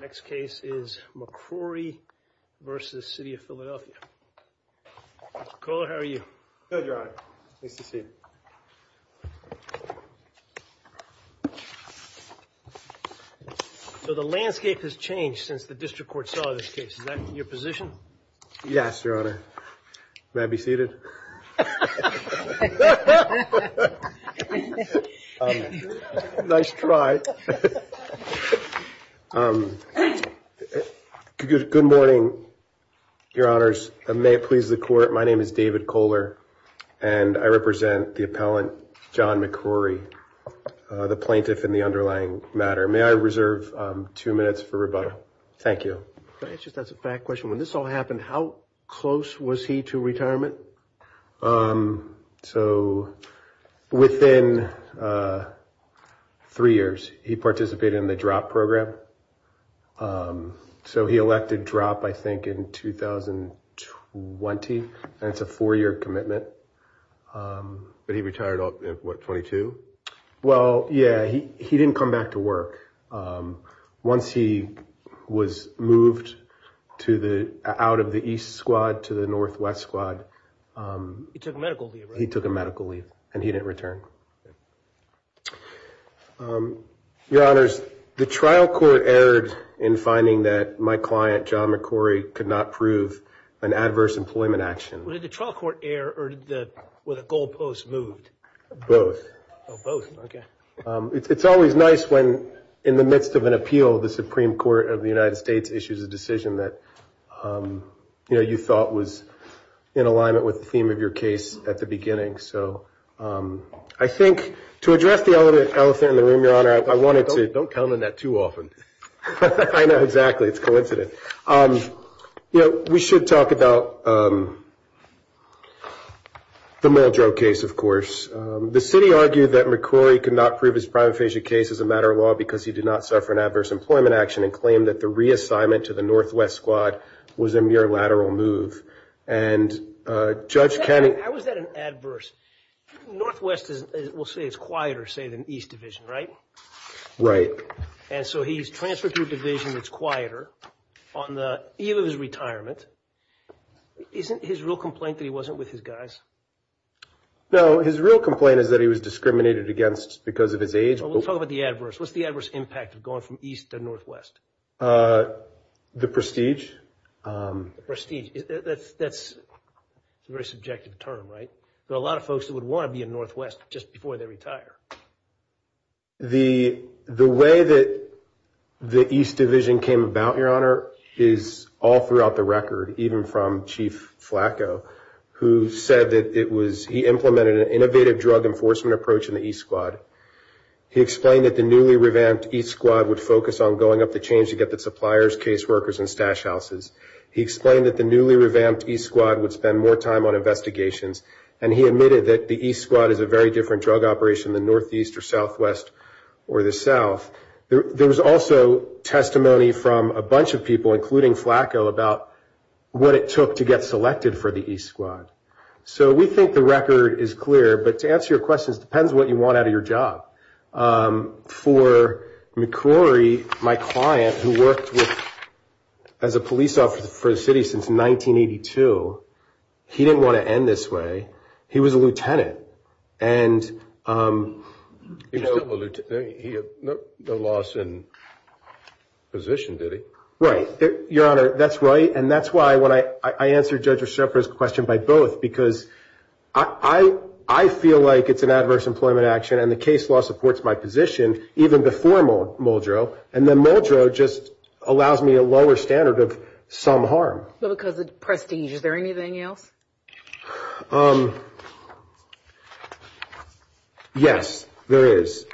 Next case is McCrorey v. City of Philadelphia. McCullough, how are you? Good, Your Honor. Nice to see you. So the landscape has changed since the district court saw this case. Is that your position? Yes, Your Honor. May I be seated? Good morning, Your Honors. May it please the court, my name is David Kohler and I represent the appellant John McCrorey, the plaintiff in the underlying matter. May I reserve two minutes for rebuttal? Thank you. May I just ask a fact question? When this all happened, how close was he to retirement? So within three years, he participated in the drop program. So he elected drop, I think, in 2020. That's a four year commitment. But he retired at what, 22? Well, yeah, he didn't come back to work. Once he was moved out of the East squad to the Northwest squad. He took a medical leave, right? He took a medical leave and he didn't return. Your Honors, the trial court erred in finding that my client, John McCrorey, could not prove an adverse employment action. Did the trial court err or were the goalposts moved? Both. Oh, both. Okay. It's always nice when in the midst of an appeal, the Supreme Court of the United States issues a decision that you thought was in alignment with the theme of your case at the beginning. So I think to address the elephant in the room, Your Honor, I wanted to... Don't count on that too often. I know, exactly. It's a coincidence. You know, we should talk about the Muldrow case, of course. The city argued that McCrorey could not prove his prima facie case as a matter of law because he did not suffer an adverse employment action and claimed that the reassignment to the Northwest squad was a mere lateral move. And Judge Canning... How is that an adverse? Northwest, we'll say it's quieter, say, than East division, right? Right. And so he's transferred to a division that's quieter on the eve of his retirement. Isn't his real complaint that he wasn't with his guys? No, his real complaint is that he was discriminated against because of his age. We'll talk about the adverse. What's the adverse impact of going from East to Northwest? The prestige. That's a very subjective term, right? There are a lot of folks that would want to be in Northwest just before they retire. The way that the East division came about, Your Honor, is all throughout the record, even from Chief Flacco, who said that it was... He implemented an innovative drug enforcement approach in the East squad. He explained that the newly revamped East squad would focus on going up the chain to get the suppliers, case workers, and stash houses. He explained that the newly revamped East squad would spend more time on investigations. And he admitted that the East squad is a very different drug operation than Northeast or Southwest or the South. There was also testimony from a bunch of people, including Flacco, about what it took to get selected for the East squad. So we think the record is clear. But to answer your question, it depends on what you want out of your job. For McCrory, my client, who worked as a police officer for the city since 1982, he didn't want to end this way. He was a lieutenant. No loss in position, did he? Right. Your Honor, that's right. And that's why, when I answer Judge O'Shea's question by both, because I feel like it's an adverse employment action, and the case law supports my position, even before Muldrow. And then Muldrow just allows me a lower standard of some harm. But because of prestige, is there anything else? Yes, there is.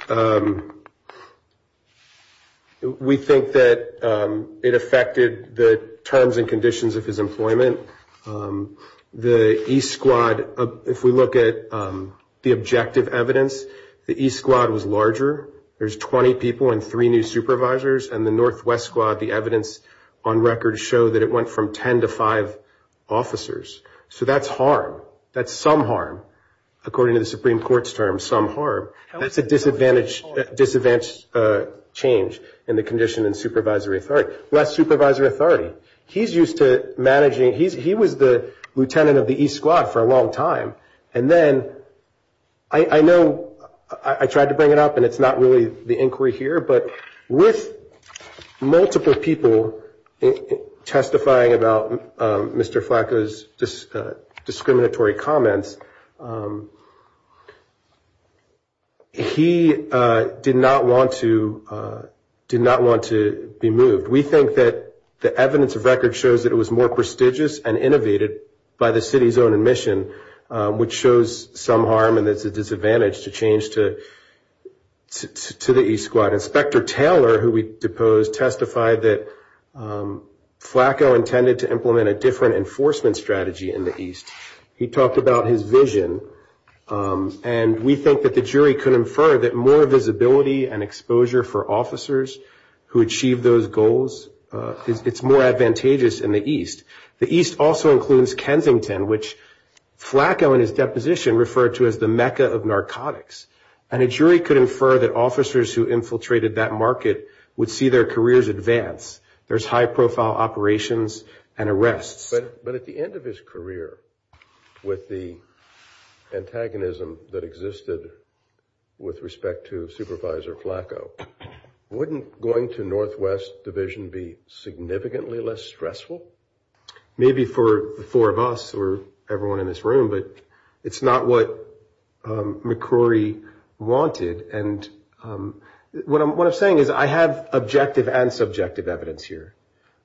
We think that it affected the terms and conditions of his employment. The East squad, if we look at the objective evidence, the East squad was larger. There's 20 people and three new supervisors. And the Northwest squad, the evidence on record show that it went from 10 to five officers. So that's harm. That's some harm, according to the Supreme Court's terms, some harm. That's a disadvantage change in the condition and supervisory authority. Less supervisory authority. He's used to managing. He was the lieutenant of the East squad for a long time. And then I know I tried to bring it up, and it's not really the inquiry here, but with multiple people testifying about Mr. Flacco's discriminatory comments, he did not want to be moved. We think that the evidence of record shows that it was more prestigious and innovated by the city's own admission, which shows some harm and it's a disadvantage to change to the East squad. And Inspector Taylor, who we deposed, testified that Flacco intended to implement a different enforcement strategy in the East. He talked about his vision, and we think that the jury could infer that more visibility and exposure for officers who achieve those goals, it's more advantageous in the East. The East also includes Kensington, which Flacco in his deposition referred to as the Mecca of narcotics. And a jury could infer that officers who infiltrated that market would see their careers advance. There's high-profile operations and arrests. But at the end of his career, with the antagonism that existed with respect to Supervisor Flacco, wouldn't going to Northwest Division be significantly less stressful? Maybe for the four of us or everyone in this room, but it's not what McCrory wanted. And what I'm saying is I have objective and subjective evidence here.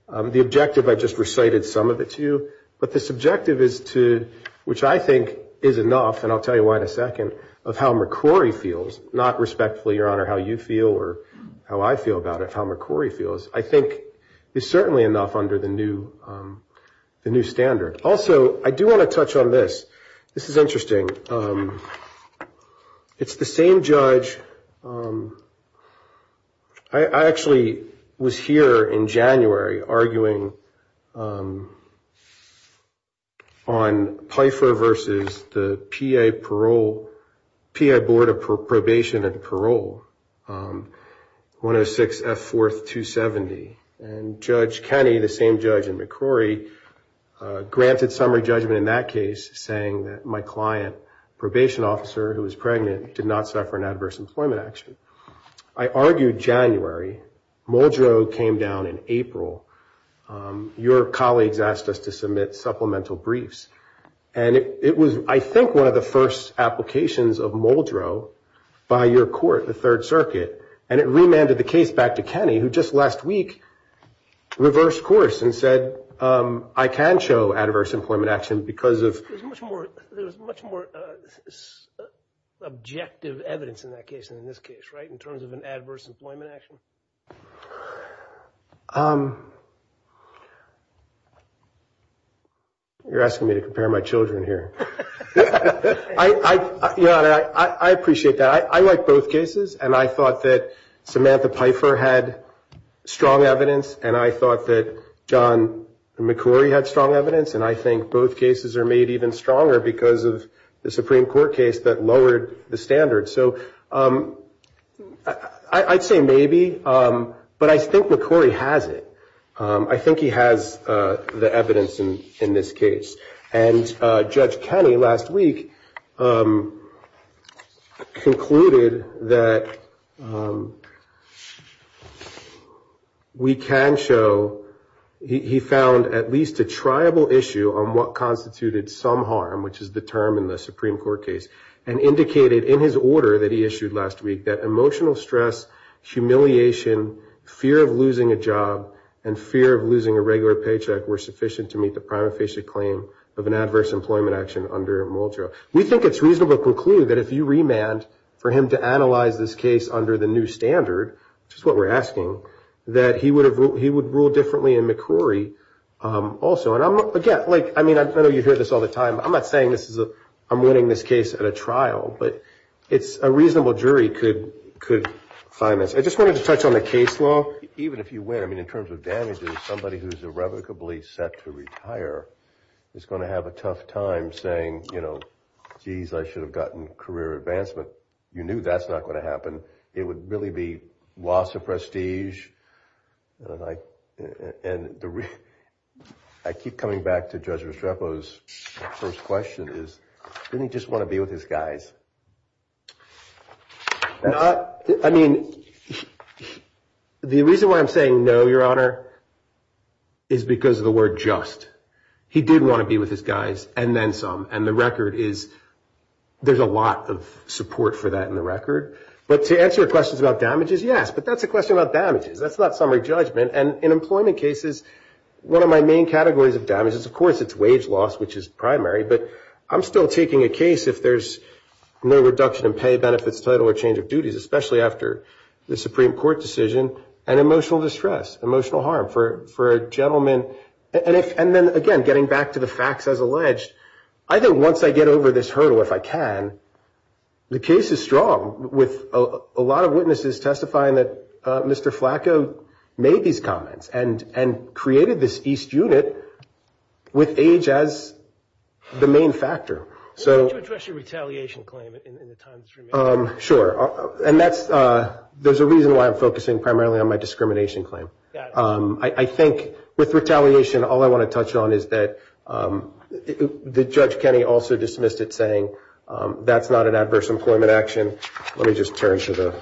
The objective, I just recited some of it to you, but the subjective is to which I think is enough, and I'll tell you why in a second, of how McCrory feels, not respectfully, Your Honor, how you feel or how I feel about it, how McCrory feels, I think is certainly enough under the new standard. Also, I do want to touch on this. This is interesting. It's the same judge. I actually was here in January arguing on PFER versus the PA parole, PA Board of Probation and Parole, 106 F. 4th, 270. And Judge Kenney, the same judge in McCrory, granted summary judgment in that case, saying that my client, probation officer who was pregnant, did not suffer an adverse employment action. I argued January. Muldrow came down in April. Your colleagues asked us to submit supplemental briefs. And it was, I think, one of the first applications of Muldrow by your court, the Third Circuit, and it remanded the case back to Kenney, who just last week reversed course and said, I can show adverse employment action because of. There's much more objective evidence in that case than in this case, right, in terms of an adverse employment action. You're asking me to compare my children here. Your Honor, I appreciate that. I like both cases, and I thought that Samantha Pfeiffer had strong evidence, and I thought that John McCrory had strong evidence, and I think both cases are made even stronger because of the Supreme Court case that lowered the standards. So I'd say maybe, but I think McCrory has it. I think he has the evidence in this case. And Judge Kenney last week concluded that we can show he found at least a triable issue on what constituted some harm, which is the term in the Supreme Court case, and indicated in his order that he issued last week that emotional stress, humiliation, fear of losing a job, and fear of losing a regular paycheck were sufficient to meet the prima facie claim of an adverse employment action under Muldrow. We think it's reasonable to conclude that if you remanded for him to analyze this case under the new standard, which is what we're asking, that he would rule differently in McCrory also. And again, I mean, I know you hear this all the time. I'm not saying I'm winning this case at a trial, but a reasonable jury could find this. I just wanted to touch on the case law. Even if you win, I mean, in terms of damages, somebody who's irrevocably set to retire is going to have a tough time saying, you know, geez, I should have gotten career advancement. You knew that's not going to happen. It would really be loss of prestige. And I keep coming back to Judge Restrepo's first question is, didn't he just want to be with his guys? I mean, the reason why I'm saying no, Your Honor, is because of the word just. He did want to be with his guys, and then some. And the record is there's a lot of support for that in the record. But to answer your questions about damages, yes. But that's a question about damages. That's not summary judgment. And in employment cases, one of my main categories of damage is, of course, it's wage loss, which is primary. But I'm still taking a case if there's no reduction in pay, benefits, title or change of duties, especially after the Supreme Court decision, and emotional distress, emotional harm for a gentleman. And then, again, getting back to the facts as alleged, I think once I get over this hurdle, if I can, the case is strong with a lot of witnesses testifying that Mr. Flacco made these comments and created this East unit with age as the main factor. Why don't you address your retaliation claim in the time that's remaining? Sure. And there's a reason why I'm focusing primarily on my discrimination claim. I think with retaliation, all I want to touch on is that Judge Kenney also dismissed it, saying that's not an adverse employment action. Let me just turn to the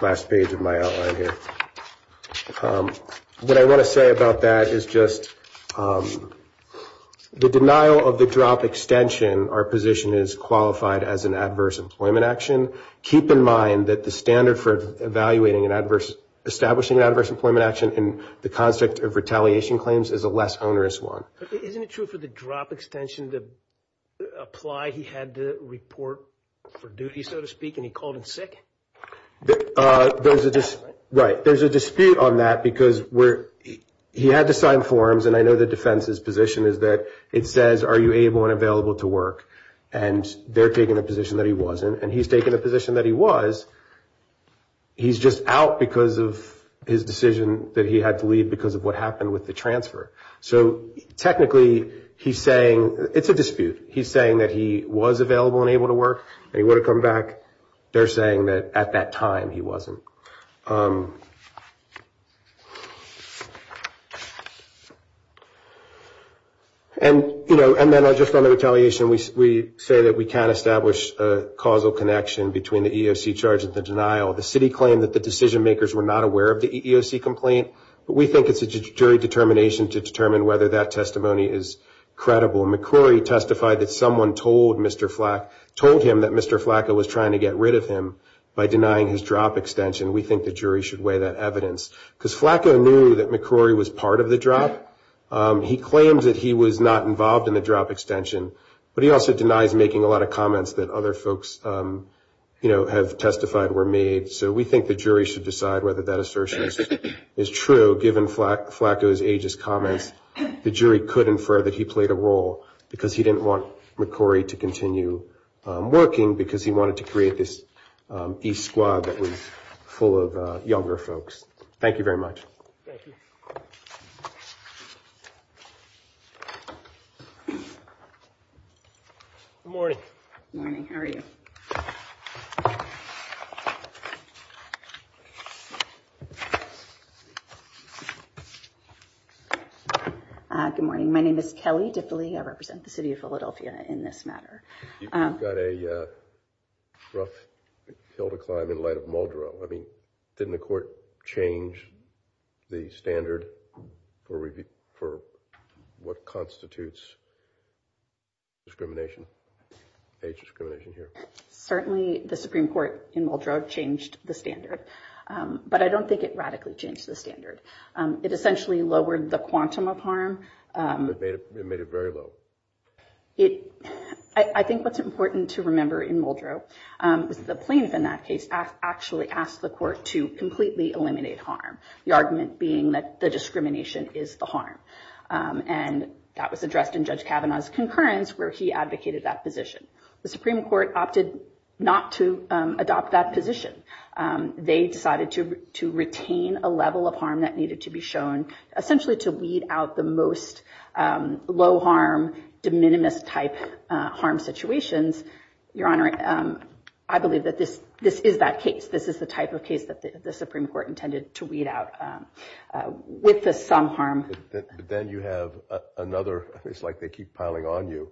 last page of my outline here. What I want to say about that is just the denial of the drop extension, our position is qualified as an adverse employment action. Keep in mind that the standard for evaluating and establishing an adverse employment action in the concept of retaliation claims is a less onerous one. Isn't it true for the drop extension to apply he had to report for duty, so to speak, and he called in sick? Right. There's a dispute on that because he had to sign forms, and I know the defense's position is that it says, are you able and available to work? And they're taking the position that he wasn't, and he's taking the position that he was. He's just out because of his decision that he had to leave because of what happened with the transfer. So technically, he's saying it's a dispute. He's saying that he was available and able to work, and he would have come back. They're saying that at that time, he wasn't. And, you know, and then just on the retaliation, we say that we can't establish a causal connection between the EEOC charge and the denial. The city claimed that the decision-makers were not aware of the EEOC complaint, but we think it's a jury determination to determine whether that testimony is credible. McCrory testified that someone told him that Mr. Flacco was trying to get rid of him by denying his drop extension. We think the jury should weigh that evidence because Flacco knew that McCrory was part of the drop. He claimed that he was not involved in the drop extension, but he also denies making a lot of comments that other folks, you know, have testified were made. So we think the jury should decide whether that assertion is true. So given Flacco's ageist comments, the jury could infer that he played a role because he didn't want McCrory to continue working because he wanted to create this E squad that was full of younger folks. Thank you very much. Thank you. Good morning. Good morning. How are you? Good morning. My name is Kelly Diffily. I represent the city of Philadelphia in this matter. You've got a rough hill to climb in light of Muldrow. I mean, didn't the court change the standard for what constitutes discrimination, age discrimination here? Certainly the Supreme Court in Muldrow changed the standard, but I don't think it radically changed the standard. It essentially lowered the quantum of harm. It made it very low. It I think what's important to remember in Muldrow is the plaintiff in that case actually asked the court to completely eliminate harm, the argument being that the discrimination is the harm. And that was addressed in Judge Kavanaugh's concurrence, where he advocated that position. The Supreme Court opted not to adopt that position. They decided to retain a level of harm that needed to be shown, essentially to weed out the most low harm, de minimis type harm situations. Your Honor, I believe that this is that case. This is the type of case that the Supreme Court intended to weed out with some harm. Then you have another. It's like they keep piling on you.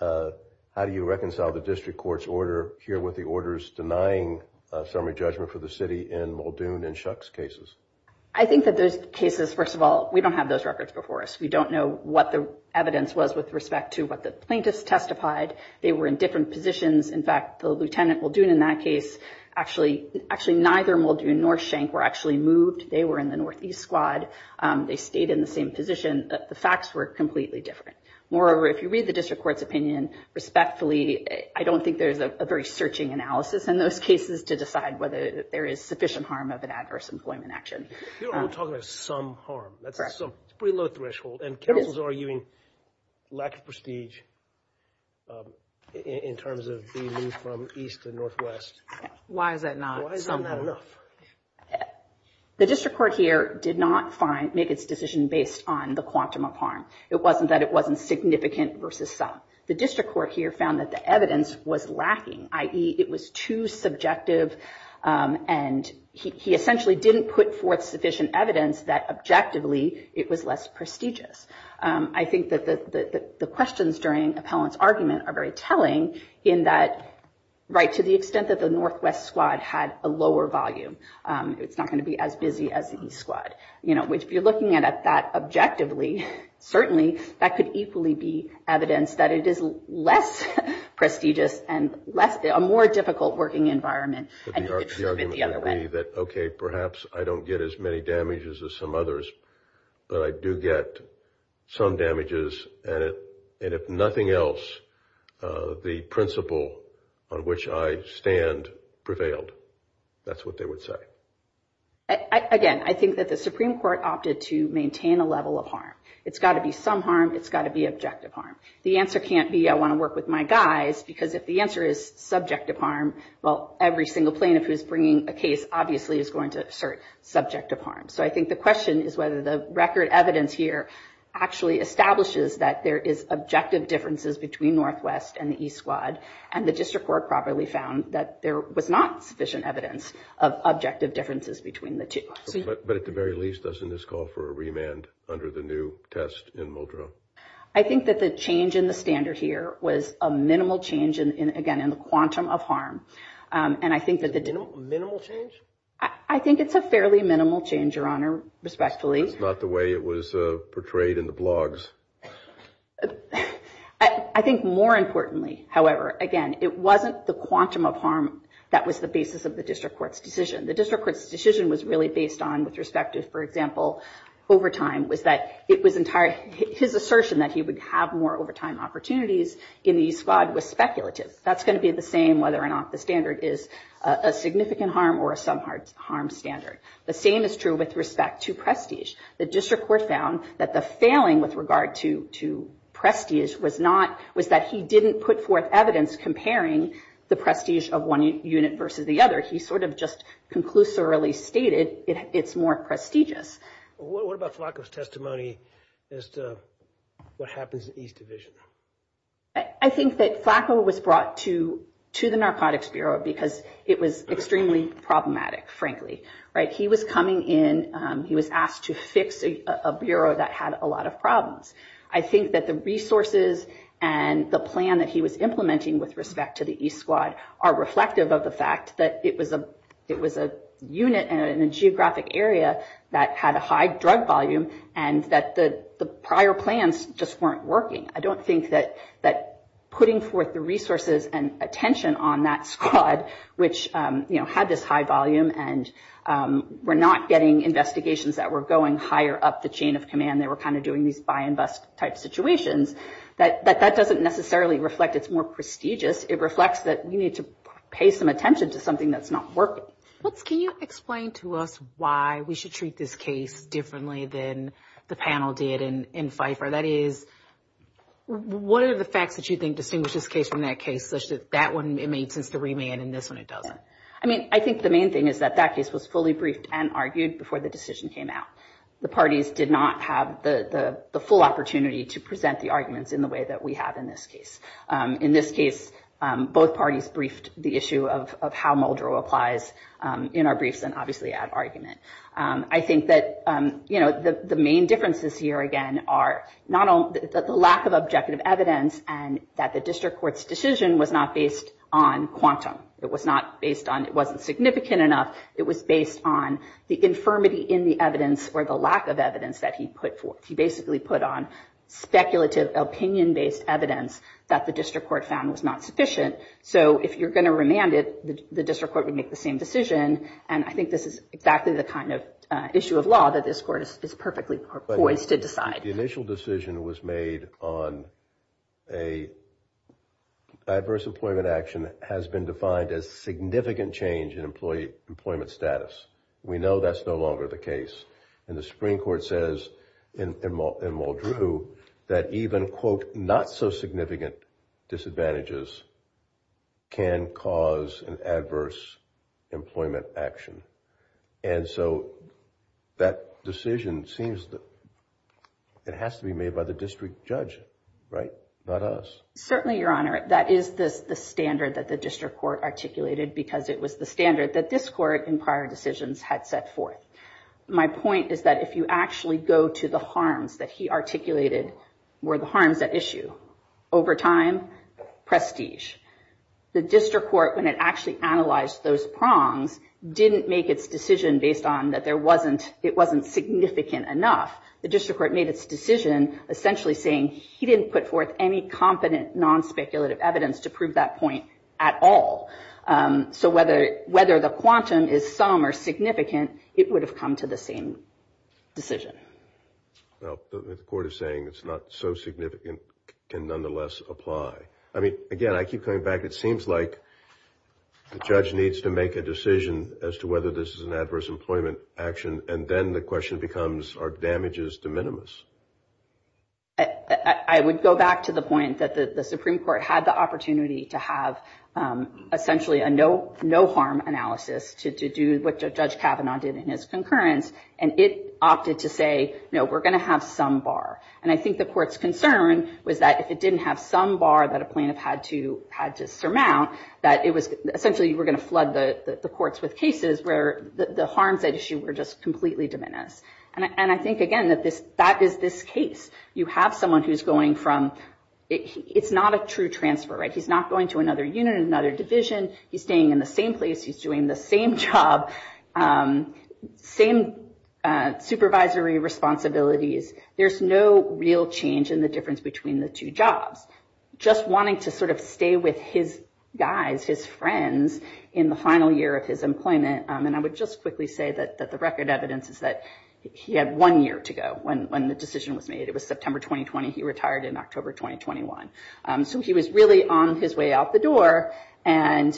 How do you reconcile the district court's order here with the orders denying summary judgment for the city in Muldoon and Shuck's cases? I think that those cases, first of all, we don't have those records before us. We don't know what the evidence was with respect to what the plaintiffs testified. They were in different positions. In fact, the lieutenant Muldoon in that case, actually neither Muldoon nor Shank were actually moved. They were in the Northeast squad. They stayed in the same position. The facts were completely different. Moreover, if you read the district court's opinion respectfully, I don't think there's a very searching analysis in those cases to decide whether there is sufficient harm of an adverse employment action. Your Honor, we're talking about some harm. That's a pretty low threshold, and counsels are arguing lack of prestige in terms of being moved from east to northwest. Why is that not enough? The district court here did not make its decision based on the quantum of harm. It wasn't that it wasn't significant versus some. The district court here found that the evidence was lacking, i.e., it was too subjective, and he essentially didn't put forth sufficient evidence that objectively it was less prestigious. I think that the questions during Appellant's argument are very telling in that, right, to the extent that the northwest squad had a lower volume, it's not going to be as busy as the east squad. You know, if you're looking at that objectively, certainly that could equally be evidence that it is less prestigious and a more difficult working environment. The argument would be that, okay, perhaps I don't get as many damages as some others, but I do get some damages, and if nothing else, the principle on which I stand prevailed. That's what they would say. Again, I think that the Supreme Court opted to maintain a level of harm. It's got to be some harm. It's got to be objective harm. The answer can't be I want to work with my guys because if the answer is subjective harm, well, every single plaintiff who's bringing a case obviously is going to assert subjective harm. So I think the question is whether the record evidence here actually establishes that there is objective differences between northwest and the east squad, and the district court probably found that there was not sufficient evidence of objective differences between the two. But at the very least, doesn't this call for a remand under the new test in Muldrow? I think that the change in the standard here was a minimal change, again, in the quantum of harm. And I think that the – Minimal change? I think it's a fairly minimal change, Your Honor, respectfully. It's not the way it was portrayed in the blogs. I think more importantly, however, again, it wasn't the quantum of harm that was the basis of the district court's decision. The district court's decision was really based on, with respect to, for example, overtime, was that it was – his assertion that he would have more overtime opportunities in the east squad was speculative. That's going to be the same whether or not the standard is a significant harm or a sub-harm standard. The same is true with respect to prestige. The district court found that the failing with regard to prestige was not – was that he didn't put forth evidence comparing the prestige of one unit versus the other. He sort of just conclusively stated it's more prestigious. What about Flacco's testimony as to what happens in east division? I think that Flacco was brought to the Narcotics Bureau because it was extremely problematic, frankly. He was coming in. He was asked to fix a bureau that had a lot of problems. I think that the resources and the plan that he was implementing with respect to the east squad are reflective of the fact that it was a unit in a geographic area that had a high drug volume and that the prior plans just weren't working. I don't think that putting forth the resources and attention on that squad, which, you know, had this high volume and were not getting investigations that were going higher up the chain of command. They were kind of doing these buy and bust type situations. That doesn't necessarily reflect it's more prestigious. It reflects that we need to pay some attention to something that's not working. Can you explain to us why we should treat this case differently than the panel did in Pfeiffer? That is, what are the facts that you think distinguish this case from that case such that that one it made sense to remand and this one it doesn't? I mean, I think the main thing is that that case was fully briefed and argued before the decision came out. The parties did not have the full opportunity to present the arguments in the way that we have in this case. In this case, both parties briefed the issue of how Muldrow applies in our briefs and obviously add argument. I think that, you know, the main differences here, again, are the lack of objective evidence and that the district court's decision was not based on quantum. It was not based on it wasn't significant enough. It was based on the infirmity in the evidence or the lack of evidence that he put forth. He basically put on speculative opinion-based evidence that the district court found was not sufficient. So if you're going to remand it, the district court would make the same decision. And I think this is exactly the kind of issue of law that this court is perfectly poised to decide. The initial decision was made on a adverse employment action that has been defined as significant change in employee employment status. We know that's no longer the case. And the Supreme Court says in Muldrow that even, quote, not so significant disadvantages can cause an adverse employment action. And so that decision seems that it has to be made by the district judge, right? Not us. Certainly, Your Honor, that is the standard that the district court articulated because it was the standard that this court in prior decisions had set forth. My point is that if you actually go to the harms that he articulated, were the harms at issue? Over time, prestige. The district court, when it actually analyzed those prongs, didn't make its decision based on that it wasn't significant enough. The district court made its decision essentially saying he didn't put forth any competent, non-speculative evidence to prove that point at all. So whether the quantum is some or significant, it would have come to the same decision. Well, the court is saying it's not so significant can nonetheless apply. I mean, again, I keep coming back. It seems like the judge needs to make a decision as to whether this is an adverse employment action. And then the question becomes, are damages de minimis? I would go back to the point that the Supreme Court had the opportunity to have essentially a no harm analysis to do what Judge Kavanaugh did in his concurrence. And it opted to say, no, we're going to have some bar. And I think the court's concern was that if it didn't have some bar that a plaintiff had to surmount, that it was essentially you were going to flood the courts with cases where the harms at issue were just completely de minimis. And I think, again, that is this case. You have someone who's going from it's not a true transfer, right? He's not going to another unit, another division. He's staying in the same place. He's doing the same job, same supervisory responsibilities. There's no real change in the difference between the two jobs. Just wanting to sort of stay with his guys, his friends, in the final year of his employment. And I would just quickly say that the record evidence is that he had one year to go when the decision was made. It was September 2020. He retired in October 2021. So he was really on his way out the door. And,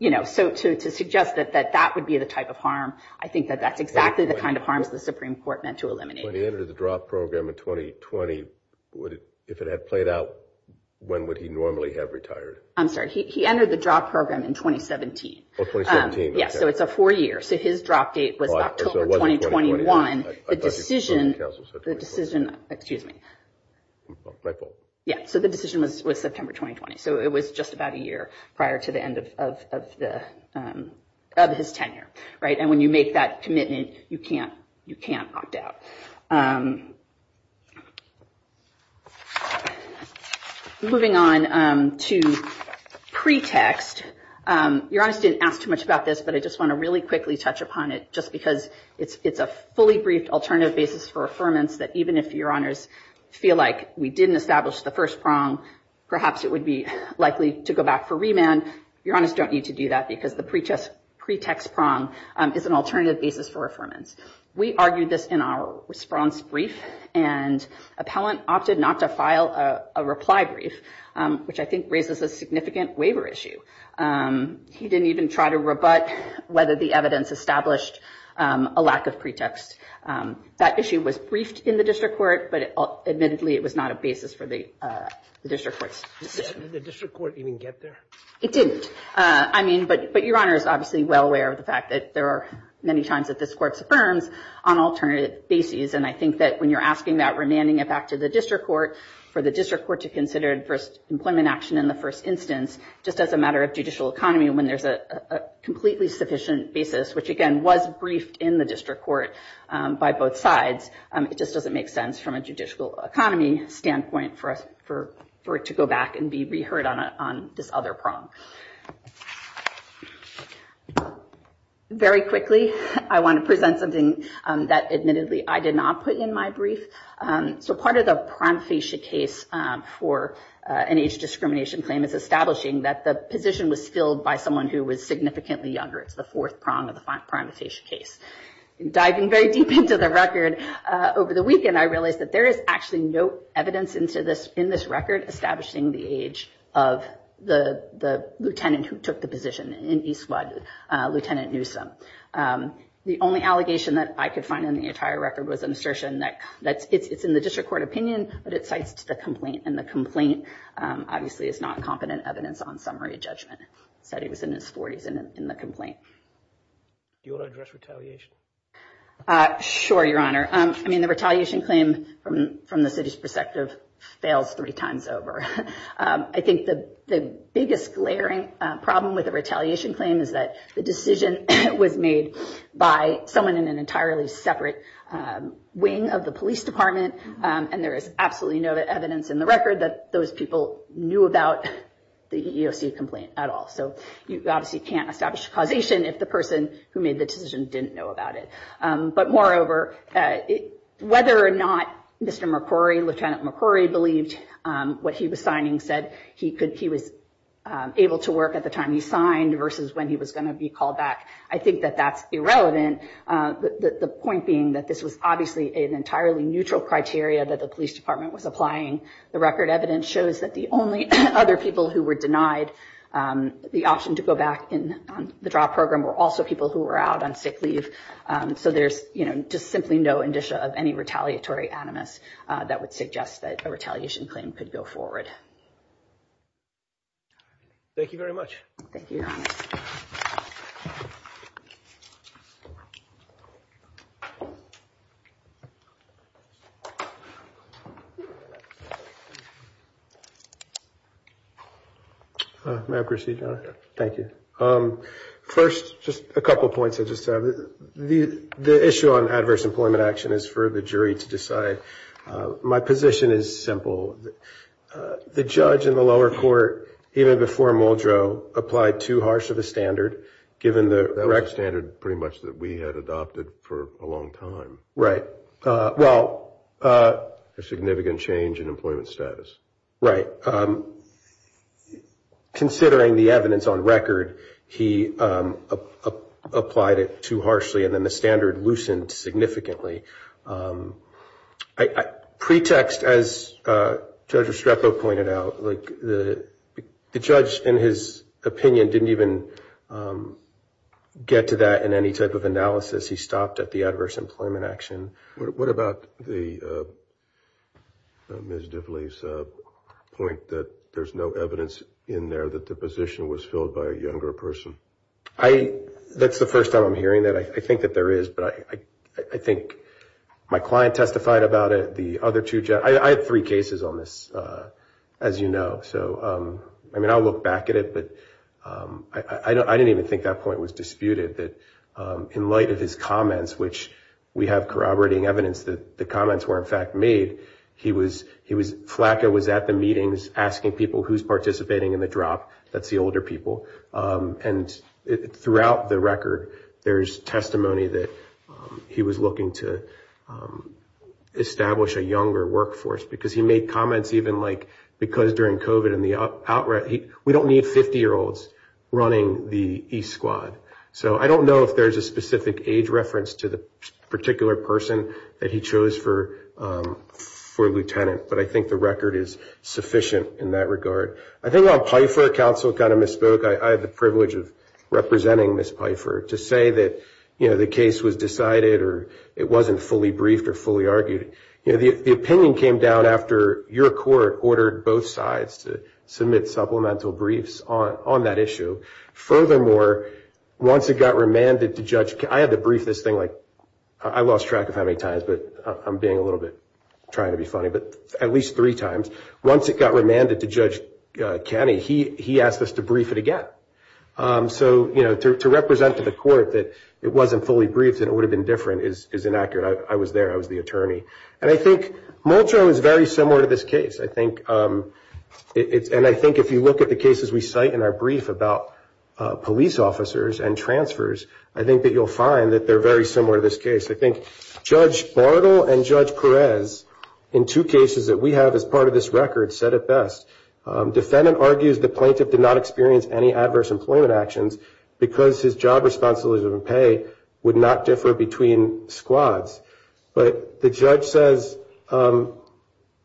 you know, so to suggest that that would be the type of harm, I think that that's exactly the kind of harms the Supreme Court meant to eliminate. When he entered the drop program in 2020, if it had played out, when would he normally have retired? I'm sorry. He entered the drop program in 2017. Oh, 2017. Yeah. So it's a four year. So his drop date was October 2021. The decision, the decision, excuse me. My fault. Yeah. So the decision was September 2020. So it was just about a year prior to the end of his tenure. Right. And when you make that commitment, you can't opt out. Moving on to pretext. Your Honor, I didn't ask too much about this, but I just want to really quickly touch upon it, just because it's a fully briefed alternative basis for affirmance that even if Your Honors feel like we didn't establish the first prong, perhaps it would be likely to go back for remand. Your Honors don't need to do that because the pretext prong is an alternative basis for affirmance. We argued this in our response brief and appellant opted not to file a reply brief, which I think raises a significant waiver issue. He didn't even try to rebut whether the evidence established a lack of pretext. That issue was briefed in the district court, but admittedly, it was not a basis for the district court's decision. Did the district court even get there? It didn't. I mean, but Your Honor is obviously well aware of the fact that there are many times that this court affirms on alternative basis. And I think that when you're asking that remanding it back to the district court for the district court to consider first employment action in the first instance, just as a matter of judicial economy, when there's a completely sufficient basis, which again was briefed in the district court by both sides, it just doesn't make sense from a judicial economy standpoint for it to go back and be reheard on this other prong. Very quickly, I want to present something that admittedly I did not put in my brief. So part of the prime facia case for an age discrimination claim is establishing that the position was filled by someone who was significantly younger. It's the fourth prong of the prime facia case. Diving very deep into the record over the weekend, I realized that there is actually no evidence in this record establishing the age of the lieutenant who took the position in Eastwood, Lieutenant Newsome. The only allegation that I could find in the entire record was an assertion that it's in the district court opinion, but it cites to the complaint. And the complaint obviously is not competent evidence on summary judgment. Said he was in his 40s in the complaint. Do you want to address retaliation? Sure, Your Honor. I mean, the retaliation claim from the city's perspective fails three times over. I think the biggest glaring problem with the retaliation claim is that the decision was made by someone in an entirely separate wing of the police department. And there is absolutely no evidence in the record that those people knew about the EEOC complaint at all. So you obviously can't establish causation if the person who made the decision didn't know about it. But moreover, whether or not Mr. McCrory, Lieutenant McCrory, believed what he was signing, said he was able to work at the time he signed versus when he was going to be called back. I think that that's irrelevant. The point being that this was obviously an entirely neutral criteria that the police department was applying. The record evidence shows that the only other people who were denied the option to go back in the drop program were also people who were out on sick leave. So there's just simply no indicia of any retaliatory animus that would suggest that a retaliation claim could go forward. Thank you very much. Thank you, Your Honor. May I proceed, Your Honor? Thank you. First, just a couple of points I just have. The issue on adverse employment action is for the jury to decide. My position is simple. The judge in the lower court, even before Muldrow, applied too harsh of a standard given the standard pretty much that we had adopted for a long time. Right. Well. A significant change in employment status. Right. Considering the evidence on record, he applied it too harshly and then the standard loosened significantly. Pretext, as Judge Estrepo pointed out, the judge, in his opinion, didn't even get to that in any type of analysis. He stopped at the adverse employment action. What about Ms. Divley's point that there's no evidence in there that the position was filled by a younger person? That's the first time I'm hearing that. I think that there is. But I think my client testified about it. I had three cases on this, as you know. So, I mean, I'll look back at it. I didn't even think that point was disputed, that in light of his comments, which we have corroborating evidence that the comments were, in fact, made. Flacco was at the meetings asking people who's participating in the drop. That's the older people. And throughout the record, there's testimony that he was looking to establish a younger workforce. Because he made comments even like, because during COVID and the outbreak, we don't need 50-year-olds running the E-Squad. So I don't know if there's a specific age reference to the particular person that he chose for lieutenant. But I think the record is sufficient in that regard. I think on Pfeiffer, counsel kind of misspoke. I had the privilege of representing Ms. Pfeiffer to say that, you know, the case was decided or it wasn't fully briefed or fully argued. You know, the opinion came down after your court ordered both sides to submit supplemental briefs on that issue. Furthermore, once it got remanded to Judge Kenney, I had to brief this thing like, I lost track of how many times, but I'm being a little bit, trying to be funny, but at least three times. Once it got remanded to Judge Kenney, he asked us to brief it again. So, you know, to represent to the court that it wasn't fully briefed and it would have been different is inaccurate. I was there. I was the attorney. And I think Moultrie was very similar to this case. I think it's, and I think if you look at the cases we cite in our brief about police officers and transfers, I think that you'll find that they're very similar to this case. I think Judge Bartle and Judge Perez, in two cases that we have as part of this record, said it best. Defendant argues the plaintiff did not experience any adverse employment actions because his job responsibilities and pay would not differ between squads. But the judge says that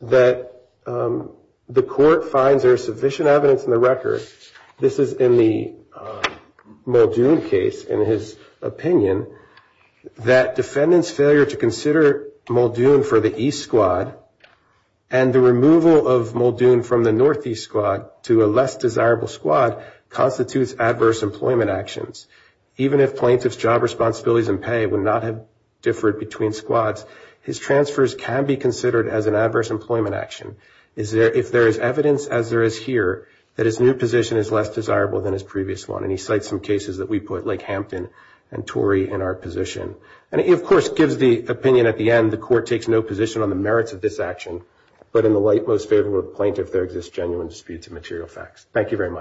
the court finds there's sufficient evidence in the record, this is in the Muldoon case, in his opinion, that defendant's failure to consider Muldoon for the East squad and the removal of Muldoon from the Northeast squad to a less desirable squad constitutes adverse employment actions. Even if plaintiff's job responsibilities and pay would not have differed between squads, his transfers can be considered as an adverse employment action if there is evidence, as there is here, that his new position is less desirable than his previous one. And he cites some cases that we put Lake Hampton and Torrey in our position. And he, of course, gives the opinion at the end, the court takes no position on the merits of this action, but in the light most favorable of the plaintiff, there exists genuine disputes and material facts. Thank you very much.